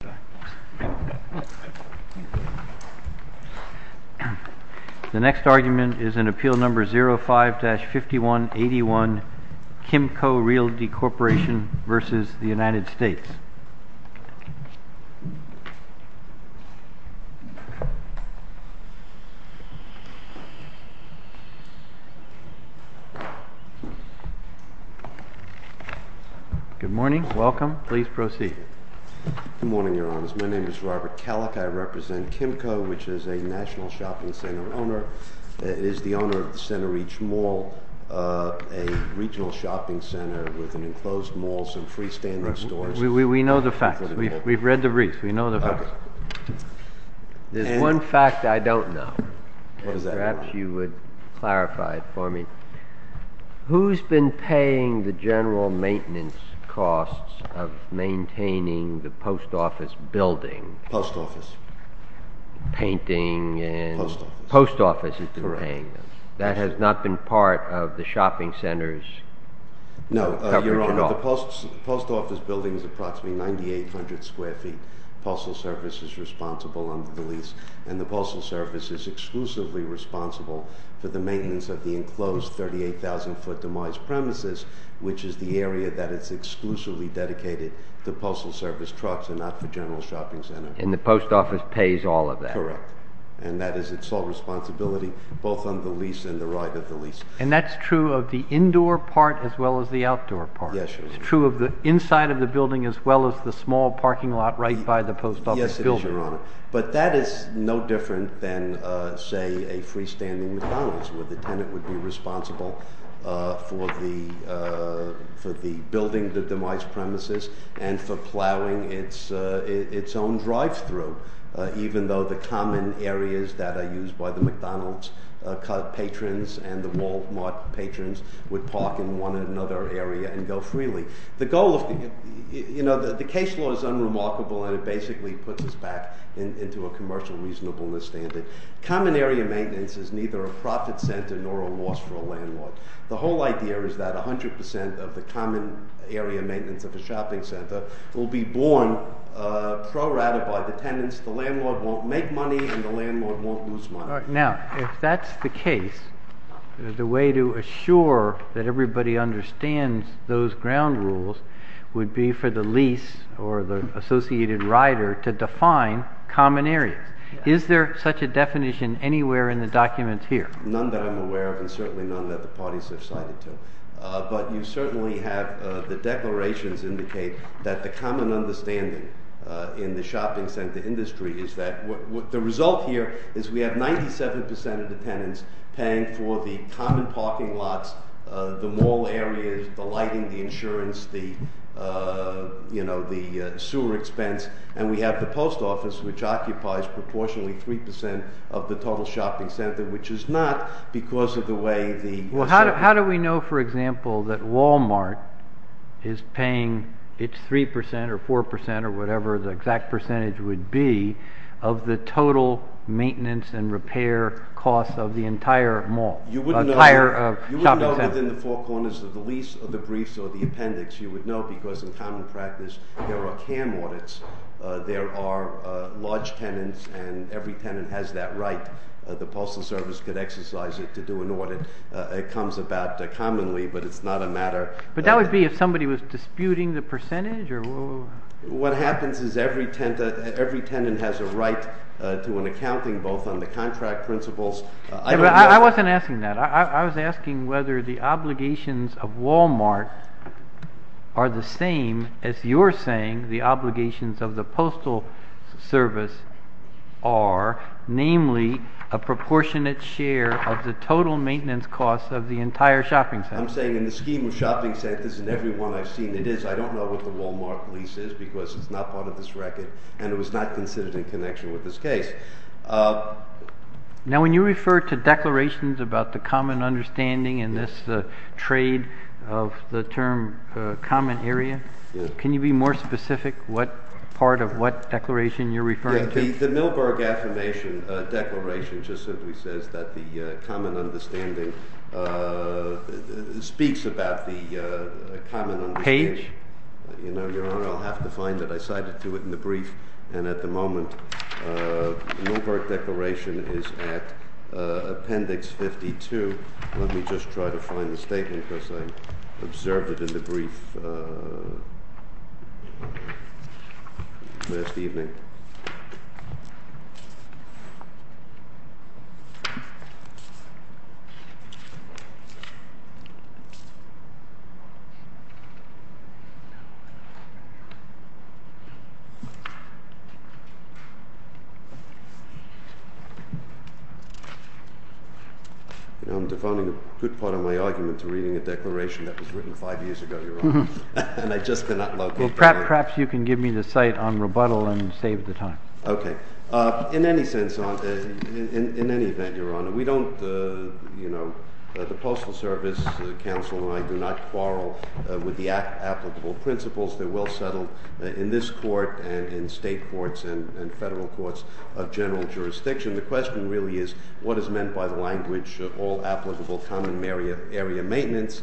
The next argument is in Appeal No. 05-5181, Kimco Realty Corp v. United States. Good morning. Welcome. Please proceed. Good morning, Your Honors. My name is Robert Kellock. I represent Kimco, which is a National Shopping Center owner. It is the owner of the Center Reach Mall, a regional shopping center with an enclosed mall, some freestanding stores. We know the facts. We've read the briefs. We know the facts. There's one fact I don't know, and perhaps you would clarify it for me. Who's been paying the general maintenance costs of maintaining the post office building? Post office. Painting and... Post office. Post office has been paying them. That has not been part of the shopping center's coverage at all. The post office building is approximately 9,800 square feet. Postal service is responsible under the lease, and the postal service is exclusively responsible for the maintenance of the enclosed 38,000-foot demised premises, which is the area that is exclusively dedicated to postal service trucks and not for general shopping centers. And the post office pays all of that? Correct. And that is its sole responsibility, both under the lease and the right of the lease. And that's true of the indoor part as well as the outdoor part? Yes, Your Honor. It's true of the inside of the building as well as the small parking lot right by the post office building? Yes, it is, Your Honor. But that is no different than, say, a freestanding McDonald's, where the tenant would be responsible for the building, the demised premises, and for plowing its own drive-thru, even though the common areas that are used by the McDonald's patrons and the Walmart patrons would park in one or another area and go freely. You know, the case law is unremarkable, and it basically puts us back into a commercial reasonableness standard. Common area maintenance is neither a profit center nor a loss for a landlord. The whole idea is that 100 percent of the common area maintenance of a shopping center will be borne pro rata by the tenants. The landlord won't make money, and the landlord won't lose money. Now, if that's the case, the way to assure that everybody understands those ground rules would be for the lease or the associated rider to define common areas. Is there such a definition anywhere in the documents here? None that I'm aware of, and certainly none that the parties have cited to. But you certainly have the declarations indicate that the common understanding in the shopping center industry is that the result here is we have 97 percent of the tenants paying for the common parking lots, the mall areas, the lighting, the insurance, the sewer expense. And we have the post office, which occupies proportionally 3 percent of the total shopping center, which is not because of the way the— Well, how do we know, for example, that Walmart is paying its 3 percent or 4 percent or whatever the exact percentage would be of the total maintenance and repair costs of the entire mall, entire shopping center? You wouldn't know within the four corners of the lease or the briefs or the appendix. You would know because in common practice there are CAM audits. There are large tenants, and every tenant has that right. The Postal Service could exercise it to do an audit. It comes about commonly, but it's not a matter— But that would be if somebody was disputing the percentage or— What happens is every tenant has a right to an accounting, both on the contract principles— I wasn't asking that. I was asking whether the obligations of Walmart are the same as you're saying the obligations of the Postal Service are, namely, a proportionate share of the total maintenance costs of the entire shopping center. I'm saying in the scheme of shopping centers and every one I've seen, it is. I don't know what the Walmart lease is because it's not part of this record, and it was not considered in connection with this case. Now, when you refer to declarations about the common understanding and this trade of the term common area, can you be more specific what part of what declaration you're referring to? The Milberg Affirmation Declaration just simply says that the common understanding speaks about the common— Page. Your Honor, I'll have to find it. I cited to it in the brief, and at the moment, Milberg Declaration is at Appendix 52. Let me just try to find the statement because I observed it in the brief last evening. I'm defining a good part of my argument to reading a declaration that was written five years ago, Your Honor, and I just cannot locate it. Perhaps you can give me the site on rebuttal and save the time. Okay. In any event, Your Honor, we don't, you know, the Postal Service Council and I do not quarrel with the applicable principles. They're well settled in this court and in state courts and federal courts of general jurisdiction. The question really is what is meant by the language of all applicable common area maintenance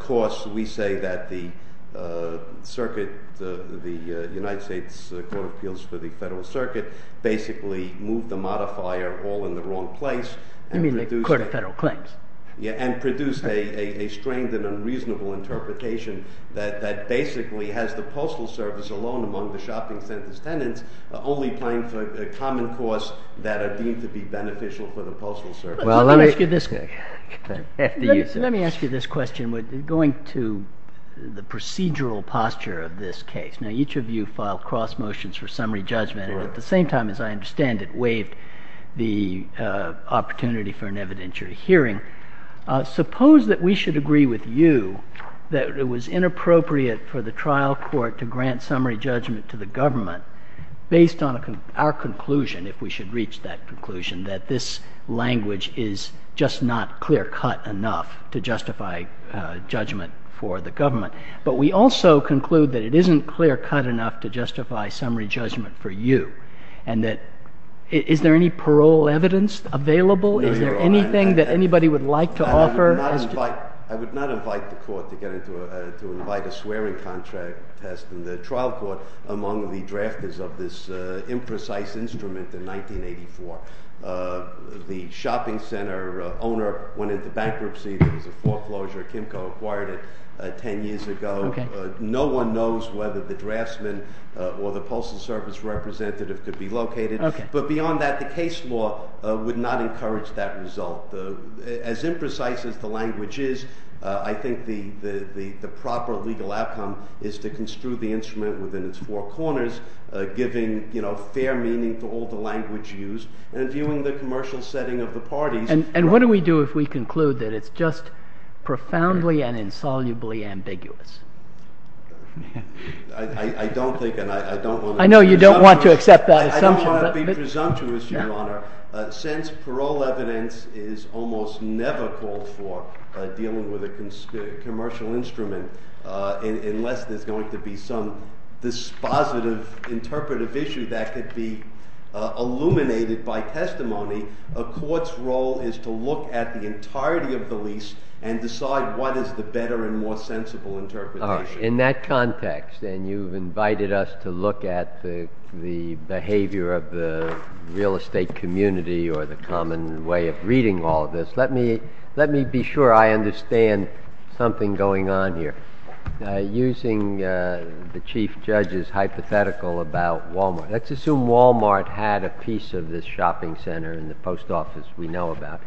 costs. We say that the circuit, the United States Court of Appeals for the Federal Circuit basically moved the modifier all in the wrong place. You mean the Court of Federal Claims? Yeah, and produced a strained and unreasonable interpretation that basically has the Postal Service alone among the shopping center's tenants only paying for common costs that are deemed to be beneficial for the Postal Service. Let me ask you this question going to the procedural posture of this case. Now, each of you filed cross motions for summary judgment and at the same time, as I understand it, waived the opportunity for an evidentiary hearing. Suppose that we should agree with you that it was inappropriate for the trial court to grant summary judgment to the government based on our conclusion, if we should reach that conclusion, that this language is just not clear cut enough to justify judgment for the government. But we also conclude that it isn't clear cut enough to justify summary judgment for you and that is there any parole evidence available? Is there anything that anybody would like to offer? I would not invite the court to invite a swearing contract test in the trial court among the drafters of this imprecise instrument in 1984. The shopping center owner went into bankruptcy. There was a foreclosure. Kimco acquired it 10 years ago. No one knows whether the draftsman or the Postal Service representative could be located. But beyond that, the case law would not encourage that result. As imprecise as the language is, I think the proper legal outcome is to construe the instrument within its four corners, giving fair meaning to all the language used and viewing the commercial setting of the parties. And what do we do if we conclude that it's just profoundly and insolubly ambiguous? I don't think and I don't want to— I'll be presumptuous, Your Honor. Since parole evidence is almost never called for dealing with a commercial instrument, unless there's going to be some dispositive interpretive issue that could be illuminated by testimony, a court's role is to look at the entirety of the lease and decide what is the better and more sensible interpretation. In that context, and you've invited us to look at the behavior of the real estate community or the common way of reading all of this, let me be sure I understand something going on here. Using the Chief Judge's hypothetical about Walmart, let's assume Walmart had a piece of this shopping center in the post office we know about.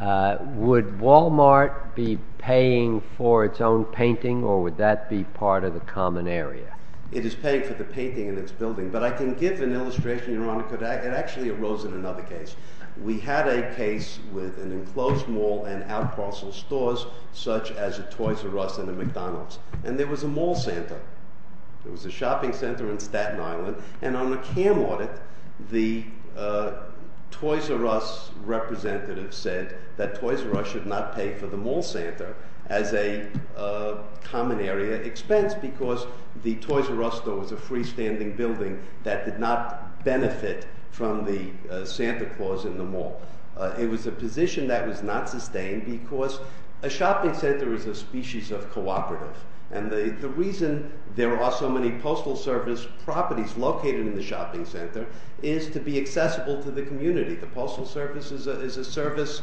Would Walmart be paying for its own painting or would that be part of the common area? It is paying for the painting in its building. But I can give an illustration, Your Honor, because it actually arose in another case. We had a case with an enclosed mall and out parcel stores such as a Toys R Us and a McDonald's. And there was a mall center. There was a shopping center in Staten Island. And on a CAM audit, the Toys R Us representative said that Toys R Us should not pay for the mall center as a common area expense because the Toys R Us store was a freestanding building that did not benefit from the Santa Claus in the mall. It was a position that was not sustained because a shopping center is a species of cooperative. And the reason there are so many postal service properties located in the shopping center is to be accessible to the community. The postal service is a service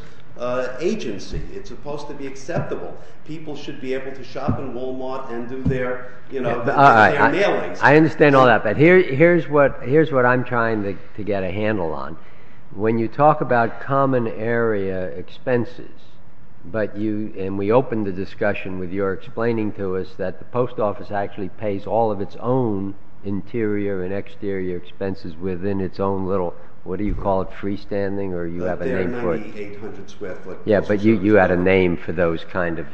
agency. It's supposed to be acceptable. People should be able to shop in Walmart and do their mailings. I understand all that, but here's what I'm trying to get a handle on. When you talk about common area expenses, and we opened the discussion with your explaining to us that the post office actually pays all of its own interior and exterior expenses within its own little, what do you call it, freestanding or you have a name for it? 9,800 square foot. Yeah, but you had a name for those kind of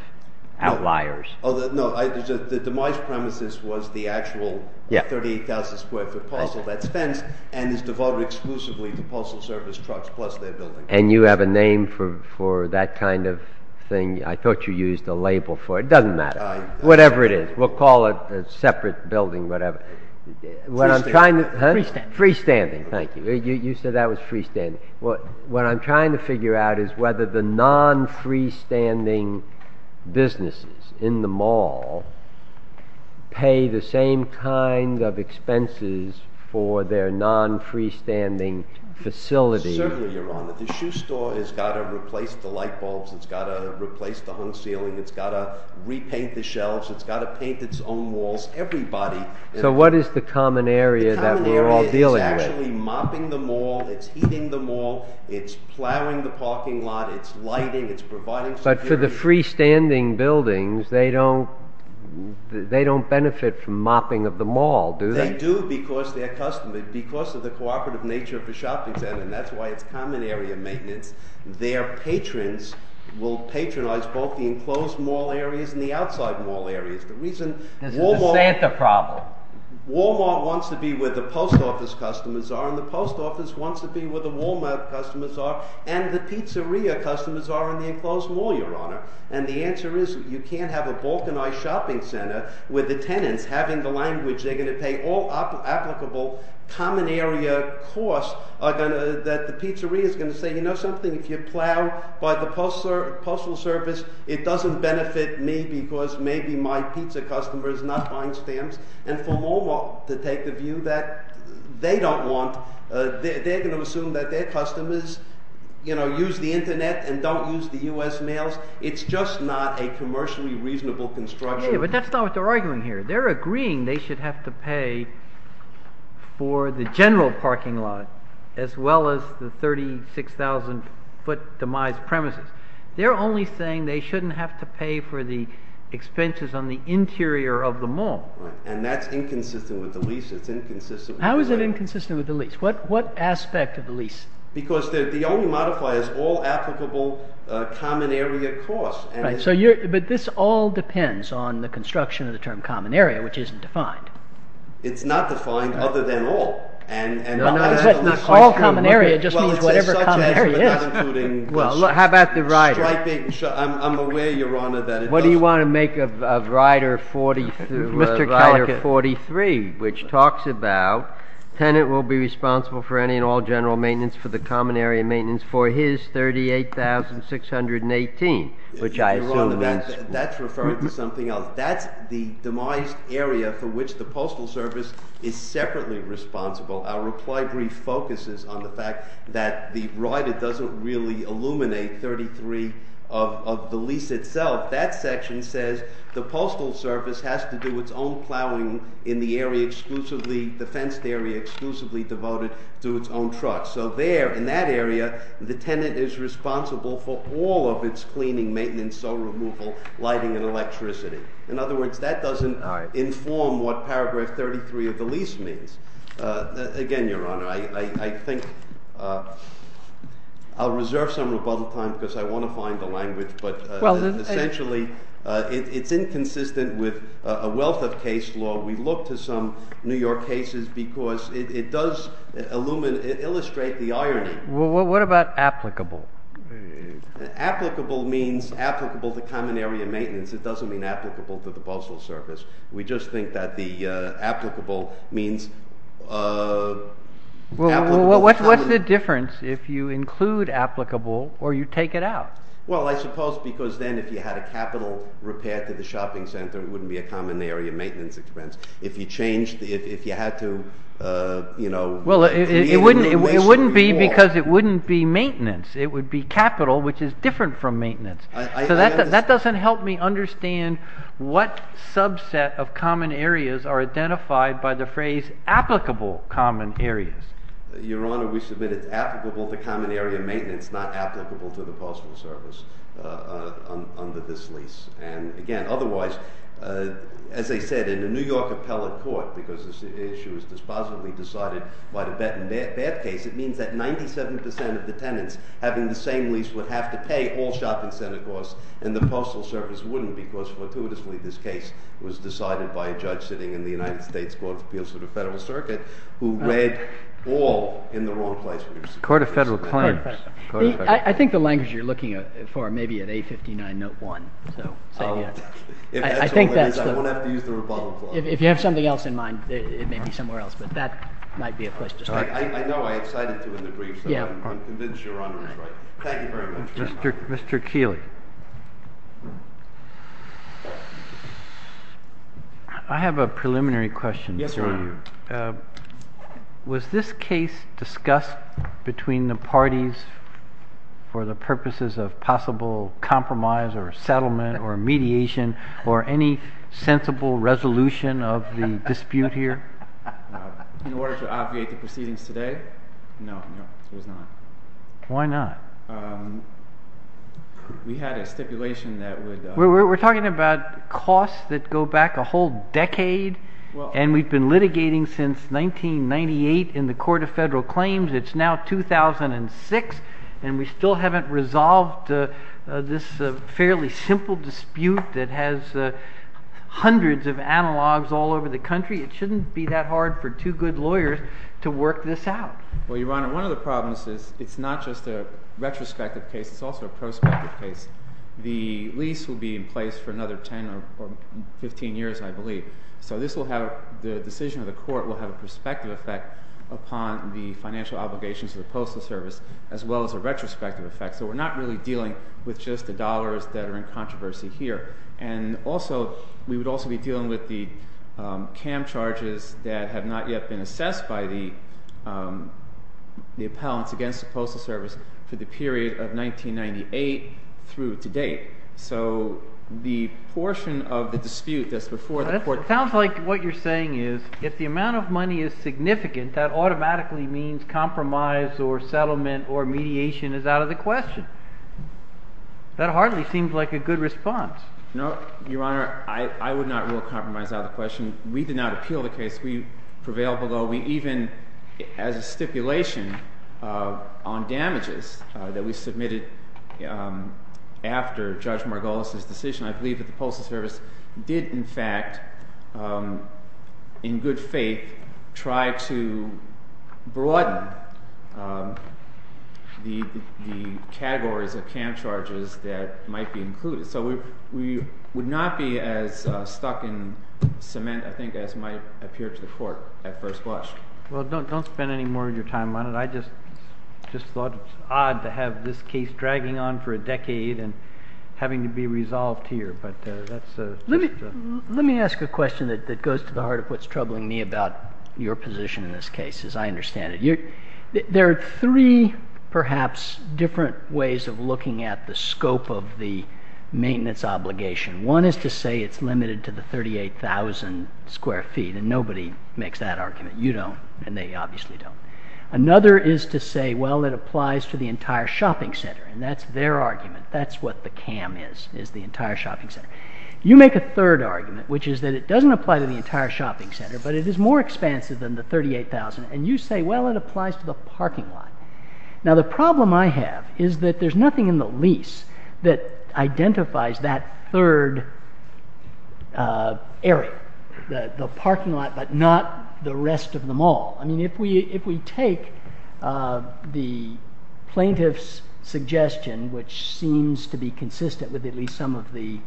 outliers. Oh, no. The demise premises was the actual 38,000 square foot postal that's fenced and is devoted exclusively to postal service trucks plus their buildings. And you have a name for that kind of thing? I thought you used a label for it. It doesn't matter. Whatever it is. We'll call it a separate building, whatever. Freestanding. Freestanding. Thank you. You said that was freestanding. What I'm trying to figure out is whether the non-freestanding businesses in the mall pay the same kind of expenses for their non-freestanding facilities. Certainly, Your Honor. The shoe store has got to replace the light bulbs. It's got to replace the hung ceiling. It's got to repaint the shelves. It's got to paint its own walls. Everybody. So what is the common area that we're all dealing with? It's actually mopping the mall. It's heating the mall. It's plowing the parking lot. It's lighting. It's providing security. But for the freestanding buildings, they don't benefit from mopping of the mall, do they? They do because they're customers. Because of the cooperative nature of the shopping center, and that's why it's common area maintenance, their patrons will patronize both the enclosed mall areas and the outside mall areas. This is the Santa problem. Walmart wants to be where the post office customers are, and the post office wants to be where the Walmart customers are, and the pizzeria customers are in the enclosed mall, Your Honor. And the answer is you can't have a balkanized shopping center with the tenants having the language they're going to pay all applicable common area costs that the pizzeria is going to say, you know something, if you plow by the postal service, it doesn't benefit me because maybe my pizza customer is not buying stamps. And for Walmart to take a view that they don't want, they're going to assume that their customers use the internet and don't use the U.S. mails. It's just not a commercially reasonable construction. But that's not what they're arguing here. They're agreeing they should have to pay for the general parking lot as well as the 36,000 foot demised premises. They're only saying they shouldn't have to pay for the expenses on the interior of the mall. And that's inconsistent with the lease. How is it inconsistent with the lease? What aspect of the lease? Because the only modifier is all applicable common area costs. But this all depends on the construction of the term common area, which isn't defined. It's not defined other than all. All common area just means whatever common area is. How about the rider? I'm aware, Your Honor, that it does. What do you want to make of rider 43, which talks about tenant will be responsible for any and all general maintenance for the common area maintenance for his 38,618, which I assume that's Your Honor, that's referring to something else. That's the demised area for which the Postal Service is separately responsible. Our reply brief focuses on the fact that the rider doesn't really illuminate 33 of the lease itself. That section says the Postal Service has to do its own plowing in the area exclusively, the fenced area exclusively devoted to its own trucks. So there, in that area, the tenant is responsible for all of its cleaning, maintenance, sew removal, lighting, and electricity. In other words, that doesn't inform what paragraph 33 of the lease means. Again, Your Honor, I think I'll reserve some rebuttal time because I want to find the language. But essentially, it's inconsistent with a wealth of case law. We look to some New York cases because it does illustrate the irony. Well, what about applicable? Applicable means applicable to common area maintenance. It doesn't mean applicable to the Postal Service. We just think that the applicable means Well, what's the difference if you include applicable or you take it out? Well, I suppose because then if you had a capital repair to the shopping center, it wouldn't be a common area maintenance expense. If you changed, if you had to, you know, Well, it wouldn't be because it wouldn't be maintenance. It would be capital, which is different from maintenance. So that doesn't help me understand what subset of common areas are identified by the phrase applicable common areas. Your Honor, we submit it's applicable to common area maintenance, not applicable to the Postal Service under this lease. And again, otherwise, as I said, in a New York appellate court, because this issue is dispositively decided by the bad case, it means that 97% of the tenants having the same lease would have to pay all shopping center costs, and the Postal Service wouldn't because fortuitously this case was decided by a judge sitting in the United States Court of Appeals for the Federal Circuit who read all in the wrong place. Court of Federal Claims. I think the language you're looking for may be at A59, note one. I think that's the one. I won't have to use the rebuttal clause. If you have something else in mind, it may be somewhere else, but that might be a place to start. I know I excited to in the brief, so I'm convinced Your Honor is right. Thank you very much. Mr. Keeley. I have a preliminary question for you. Was this case discussed between the parties for the purposes of possible compromise or settlement or mediation or any sensible resolution of the dispute here? In order to obviate the proceedings today, no, no, it was not. Why not? We had a stipulation that would— We're talking about costs that go back a whole decade, and we've been litigating since 1998 in the Court of Federal Claims. It's now 2006, and we still haven't resolved this fairly simple dispute that has hundreds of analogs all over the country. It shouldn't be that hard for two good lawyers to work this out. Well, Your Honor, one of the problems is it's not just a retrospective case. It's also a prospective case. The lease will be in place for another 10 or 15 years, I believe. So this will have—the decision of the court will have a prospective effect upon the financial obligations of the Postal Service as well as a retrospective effect. So we're not really dealing with just the dollars that are in controversy here. And also we would also be dealing with the CAM charges that have not yet been assessed by the appellants against the Postal Service for the period of 1998 through to date. So the portion of the dispute that's before the court— It sounds like what you're saying is if the amount of money is significant, that automatically means compromise or settlement or mediation is out of the question. That hardly seems like a good response. No, Your Honor, I would not rule compromise out of the question. We did not appeal the case. We prevailed below. So we even—as a stipulation on damages that we submitted after Judge Margolis' decision, I believe that the Postal Service did, in fact, in good faith, try to broaden the categories of CAM charges that might be included. So we would not be as stuck in cement, I think, as might appear to the court at first blush. Well, don't spend any more of your time on it. I just thought it was odd to have this case dragging on for a decade and having to be resolved here. But that's— Let me ask a question that goes to the heart of what's troubling me about your position in this case, as I understand it. There are three, perhaps, different ways of looking at the scope of the maintenance obligation. One is to say it's limited to the 38,000 square feet, and nobody makes that argument. You don't, and they obviously don't. Another is to say, well, it applies to the entire shopping center, and that's their argument. That's what the CAM is, is the entire shopping center. You make a third argument, which is that it doesn't apply to the entire shopping center, but it is more expansive than the 38,000. And you say, well, it applies to the parking lot. Now, the problem I have is that there's nothing in the lease that identifies that third area, the parking lot, but not the rest of them all. I mean, if we take the plaintiff's suggestion, which seems to be consistent with at least some of the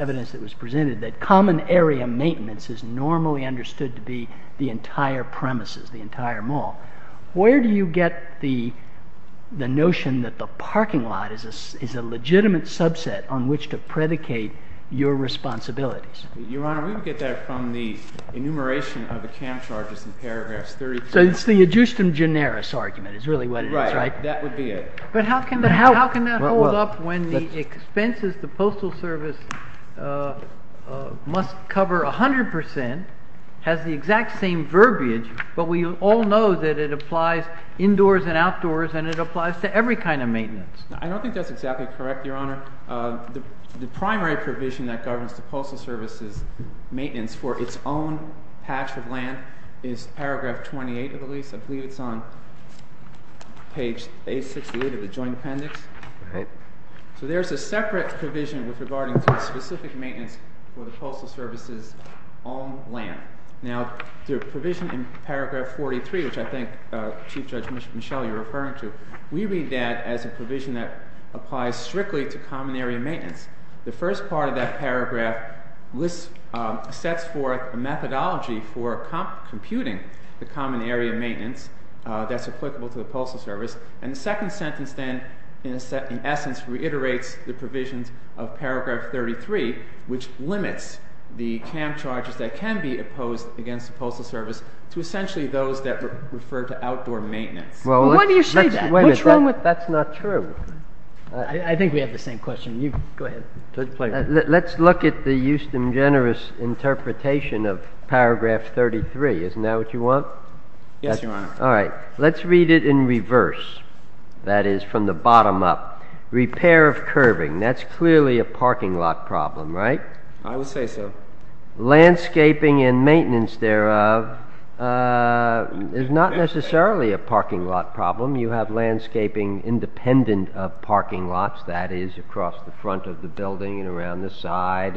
evidence that was presented, that common area maintenance is normally understood to be the entire premises, the entire mall, where do you get the notion that the parking lot is a legitimate subset on which to predicate your responsibilities? Your Honor, we would get that from the enumeration of the CAM charges in paragraphs 32. So it's the adjustum generis argument is really what it is, right? Right. That would be it. But how can that hold up when the expenses the Postal Service must cover 100% has the exact same verbiage, but we all know that it applies indoors and outdoors, and it applies to every kind of maintenance? I don't think that's exactly correct, Your Honor. The primary provision that governs the Postal Service's maintenance for its own patch of land is paragraph 28 of the lease. I believe it's on page 68 of the joint appendix. All right. So there's a separate provision regarding specific maintenance for the Postal Service's own land. Now, the provision in paragraph 43, which I think Chief Judge Michel, you're referring to, we read that as a provision that applies strictly to common area maintenance. The first part of that paragraph lists – sets forth a methodology for computing the common area maintenance that's applicable to the Postal Service. And the second sentence then, in essence, reiterates the provisions of paragraph 33, which limits the camp charges that can be opposed against the Postal Service to essentially those that refer to outdoor maintenance. Why do you say that? What's wrong with that? That's not true. I think we have the same question. Go ahead. Let's look at the justum generis interpretation of paragraph 33. Isn't that what you want? Yes, Your Honor. All right. Let's read it in reverse, that is, from the bottom up. Repair of curving. That's clearly a parking lot problem, right? I would say so. Landscaping and maintenance thereof is not necessarily a parking lot problem. You have landscaping independent of parking lots, that is, across the front of the building and around the side.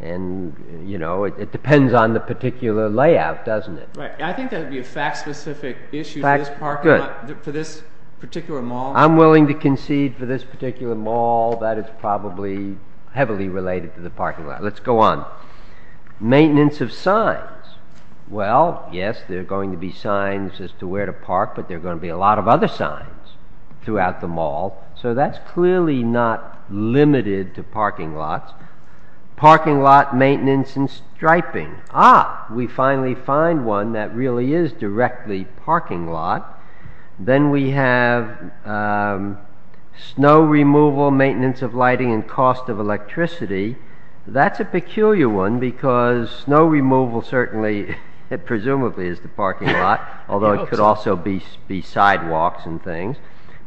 And, you know, it depends on the particular layout, doesn't it? Right. I think that would be a fact-specific issue for this particular mall. I'm willing to concede for this particular mall that it's probably heavily related to the parking lot. Let's go on. Maintenance of signs. Well, yes, there are going to be signs as to where to park, but there are going to be a lot of other signs throughout the mall. So that's clearly not limited to parking lots. Parking lot maintenance and striping. Ah, we finally find one that really is directly parking lot. Then we have snow removal, maintenance of lighting, and cost of electricity. That's a peculiar one because snow removal certainly presumably is the parking lot, although it could also be sidewalks and things.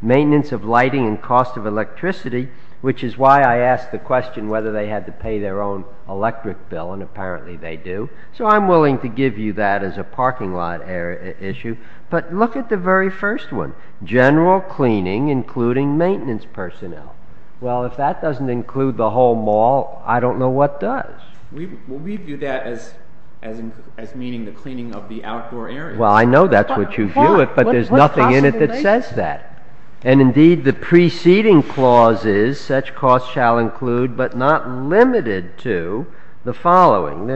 Maintenance of lighting and cost of electricity, which is why I asked the question whether they had to pay their own electric bill, and apparently they do, so I'm willing to give you that as a parking lot issue. But look at the very first one. General cleaning, including maintenance personnel. Well, if that doesn't include the whole mall, I don't know what does. We view that as meaning the cleaning of the outdoor area. Well, I know that's what you view it, but there's nothing in it that says that. And indeed, the preceding clause is such costs shall include, but not limited to, the following.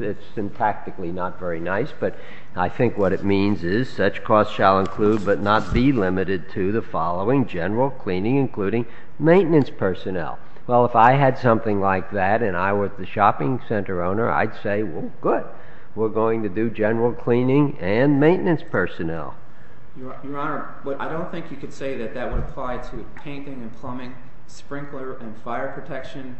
It's syntactically not very nice, but I think what it means is such costs shall include, but not be limited to, the following. General cleaning, including maintenance personnel. Well, if I had something like that and I were the shopping center owner, I'd say, well, good. We're going to do general cleaning and maintenance personnel. Your Honor, I don't think you could say that that would apply to painting and plumbing, sprinkler and fire protection,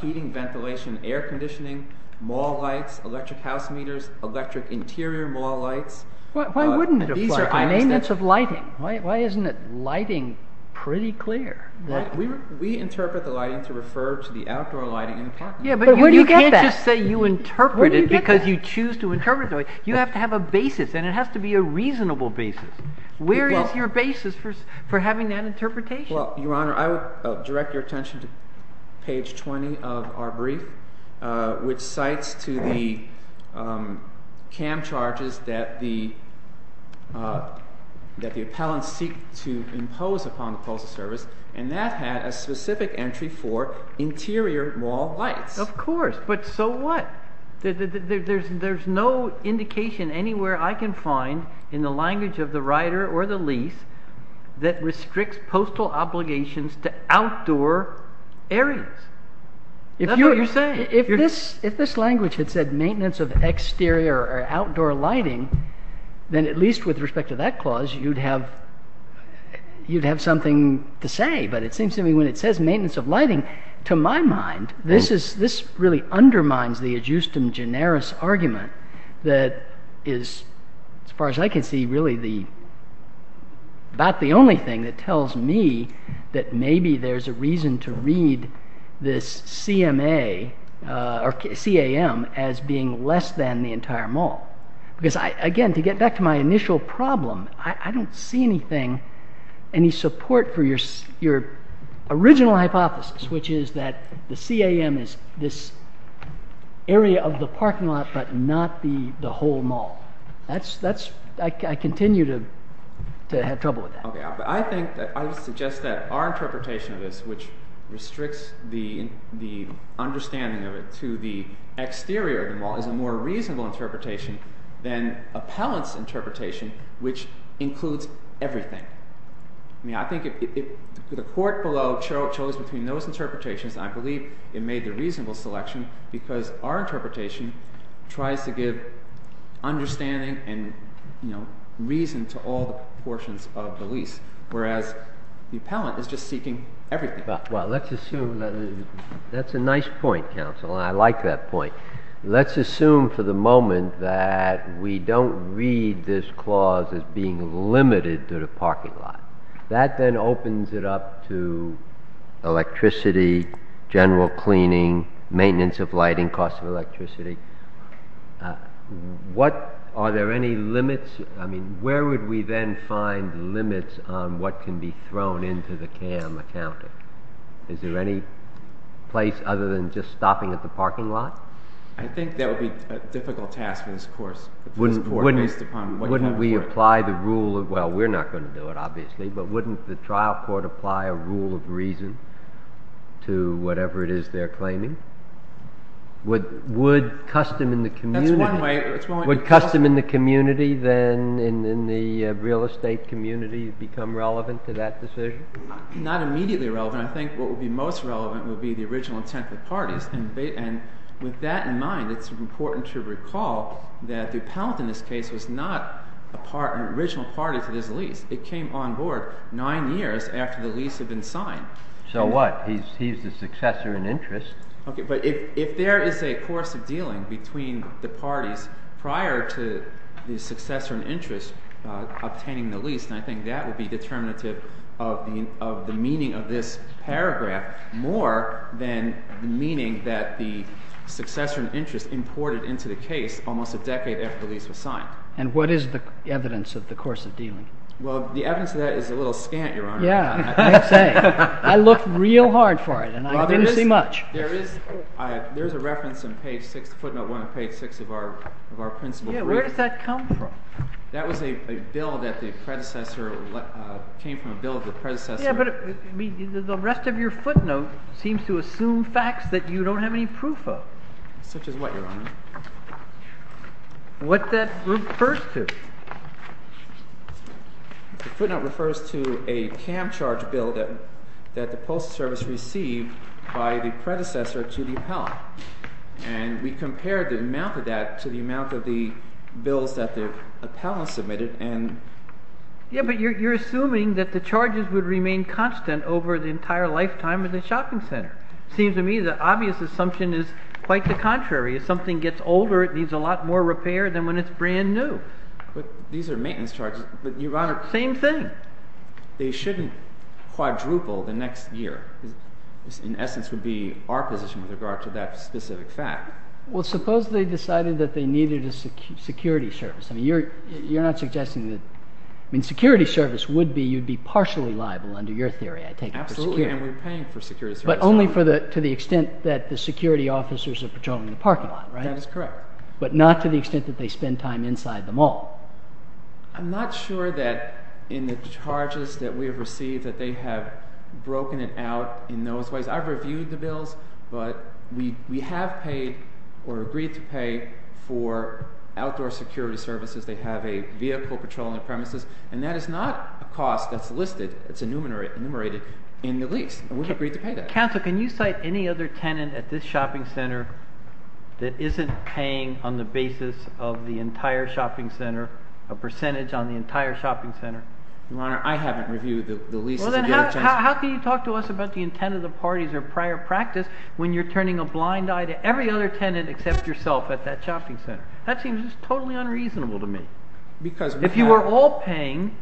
heating, ventilation, air conditioning, mall lights, electric house meters, electric interior mall lights. Why wouldn't it apply? These are amendments of lighting. Why isn't lighting pretty clear? We interpret the lighting to refer to the outdoor lighting in apartments. Yeah, but you can't just say you interpret it because you choose to interpret it. You have to have a basis, and it has to be a reasonable basis. Where is your basis for having that interpretation? Well, Your Honor, I would direct your attention to page 20 of our brief, which cites to the CAM charges that the appellants seek to impose upon the postal service, and that had a specific entry for interior mall lights. Of course, but so what? There's no indication anywhere I can find in the language of the rider or the lease that restricts postal obligations to outdoor areas. If this language had said maintenance of exterior or outdoor lighting, then at least with respect to that clause, you'd have something to say. But it seems to me when it says maintenance of lighting, to my mind, this really undermines the adjustum generis argument that is, as far as I can see, really about the only thing that tells me that maybe there's a reason to read this CAM as being less than the entire mall. Because, again, to get back to my initial problem, I don't see anything, any support for your original hypothesis, which is that the CAM is this area of the parking lot but not the whole mall. I continue to have trouble with that. I would suggest that our interpretation of this, which restricts the understanding of it to the exterior of the mall, is a more reasonable interpretation than appellants' interpretation, which includes everything. I think if the court below chose between those interpretations, I believe it made the reasonable selection because our interpretation tries to give understanding and reason to all the portions of the lease, whereas the appellant is just seeking everything. That's a nice point, counsel, and I like that point. Let's assume for the moment that we don't read this clause as being limited to the parking lot. That then opens it up to electricity, general cleaning, maintenance of lighting, cost of electricity. Are there any limits? Where would we then find limits on what can be thrown into the CAM accounting? Is there any place other than just stopping at the parking lot? I think that would be a difficult task for this court based upon what you have in mind. Well, we're not going to do it, obviously, but wouldn't the trial court apply a rule of reason to whatever it is they're claiming? Would custom in the community then, in the real estate community, become relevant to that decision? Not immediately relevant. I think what would be most relevant would be the original intent of the parties. And with that in mind, it's important to recall that the appellant in this case was not an original party to this lease. It came on board nine years after the lease had been signed. So what? He's the successor in interest. Okay, but if there is a course of dealing between the parties prior to the successor in interest obtaining the lease, then I think that would be determinative of the meaning of this paragraph more than the meaning that the successor in interest imported into the case almost a decade after the lease was signed. And what is the evidence of the course of dealing? Well, the evidence of that is a little scant, Your Honor. Yeah, I'd say. I looked real hard for it, and I didn't see much. There is a reference in page 6, footnote 1 of page 6 of our principal brief. Yeah, where does that come from? That was a bill that came from a bill of the predecessor. Yeah, but the rest of your footnote seems to assume facts that you don't have any proof of. Such as what, Your Honor? What that refers to. The footnote refers to a CAM charge bill that the Postal Service received by the predecessor to the appellant. And we compared the amount of that to the amount of the bills that the appellant submitted. Yeah, but you're assuming that the charges would remain constant over the entire lifetime of the shopping center. It seems to me the obvious assumption is quite the contrary. If something gets older, it needs a lot more repair than when it's brand new. But these are maintenance charges. But, Your Honor, same thing. They shouldn't quadruple the next year. This, in essence, would be our position with regard to that specific fact. Well, suppose they decided that they needed a security service. I mean, you're not suggesting that. I mean, security service would be, you'd be partially liable under your theory, I take it. Absolutely, and we're paying for security service. But only to the extent that the security officers are patrolling the parking lot, right? That is correct. But not to the extent that they spend time inside the mall. I'm not sure that in the charges that we have received that they have broken it out in those ways. I've reviewed the bills, but we have paid or agreed to pay for outdoor security services. They have a vehicle patrolling the premises, and that is not a cost that's listed. It's enumerated in the lease, and we've agreed to pay that. Counsel, can you cite any other tenant at this shopping center that isn't paying on the basis of the entire shopping center, a percentage on the entire shopping center? Your Honor, I haven't reviewed the lease. Well, then how can you talk to us about the intent of the parties or prior practice when you're turning a blind eye to every other tenant except yourself at that shopping center? That seems just totally unreasonable to me. If you are all paying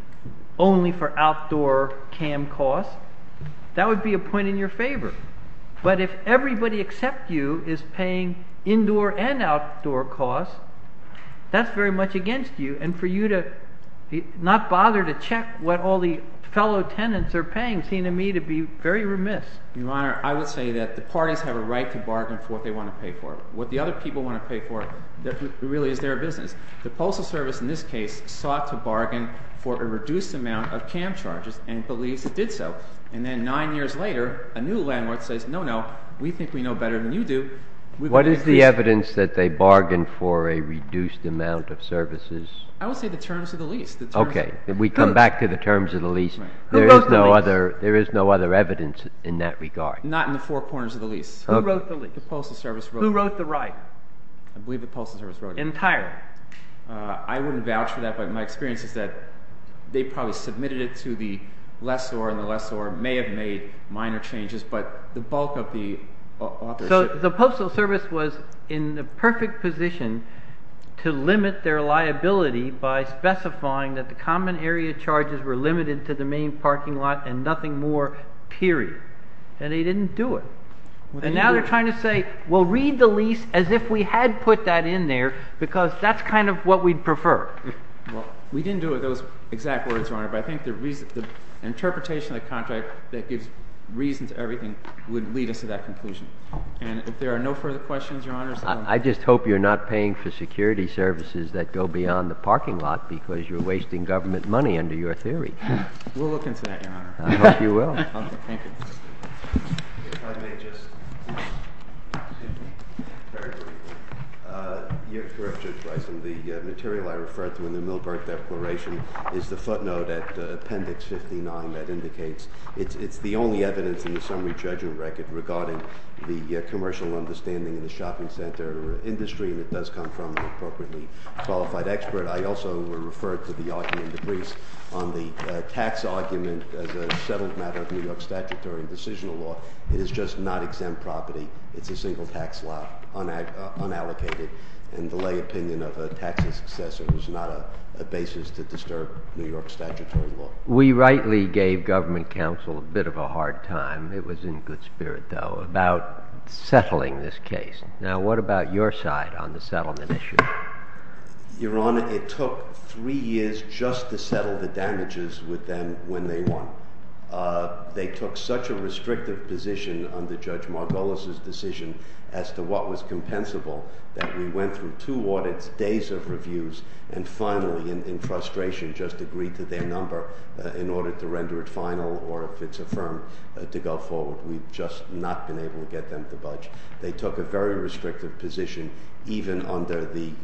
only for outdoor cam costs, that would be a point in your favor. But if everybody except you is paying indoor and outdoor costs, that's very much against you. And for you to not bother to check what all the fellow tenants are paying seems to me to be very remiss. Your Honor, I would say that the parties have a right to bargain for what they want to pay for. What the other people want to pay for really is their business. The Postal Service in this case sought to bargain for a reduced amount of cam charges and believes it did so. And then nine years later, a new landlord says, no, no, we think we know better than you do. What is the evidence that they bargained for a reduced amount of services? I would say the terms of the lease. Okay. We come back to the terms of the lease. Who wrote the lease? There is no other evidence in that regard. Not in the four corners of the lease. Who wrote the lease? The Postal Service wrote it. Who wrote the right? I believe the Postal Service wrote it. Entirely. I wouldn't vouch for that, but my experience is that they probably submitted it to the lessor, and the lessor may have made minor changes. But the bulk of the authorship— So the Postal Service was in the perfect position to limit their liability by specifying that the common area charges were limited to the main parking lot and nothing more, period. And they didn't do it. And now they're trying to say, well, read the lease as if we had put that in there, because that's kind of what we'd prefer. Well, we didn't do those exact words, Your Honor, but I think the interpretation of the contract that gives reason to everything would lead us to that conclusion. And if there are no further questions, Your Honor— I just hope you're not paying for security services that go beyond the parking lot because you're wasting government money under your theory. We'll look into that, Your Honor. I hope you will. Thank you. If I may just—excuse me, very briefly. You're correct, Judge Bison. The material I referred to in the Milbert declaration is the footnote at Appendix 59 that indicates it's the only evidence in the summary judgment record regarding the commercial understanding in the shopping center industry, and it does come from an appropriately qualified expert. I also referred to the argument in the briefs on the tax argument as a settled matter of New York statutory and decisional law. It is just not exempt property. It's a single tax law, unallocated, and the lay opinion of a tax successor is not a basis to disturb New York statutory law. We rightly gave government counsel a bit of a hard time—it was in good spirit, though—about settling this case. Now, what about your side on the settlement issue? Your Honor, it took three years just to settle the damages with them when they won. They took such a restrictive position under Judge Margolis' decision as to what was compensable that we went through two audits, days of reviews, and finally, in frustration, just agreed to their number in order to render it final or, if it's affirmed, to go forward. We've just not been able to get them to budge. They took a very restrictive position, even under the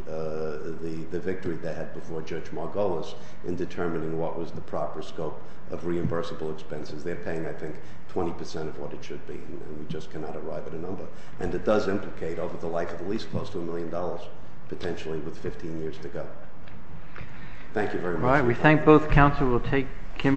victory they had before Judge Margolis, in determining what was the proper scope of reimbursable expenses. They're paying, I think, 20 percent of what it should be, and we just cannot arrive at a number. And it does implicate, over the life of the lease, close to a million dollars, potentially, with 15 years to go. Thank you very much. All right. We thank both counsel. We'll take Kim. Thank you.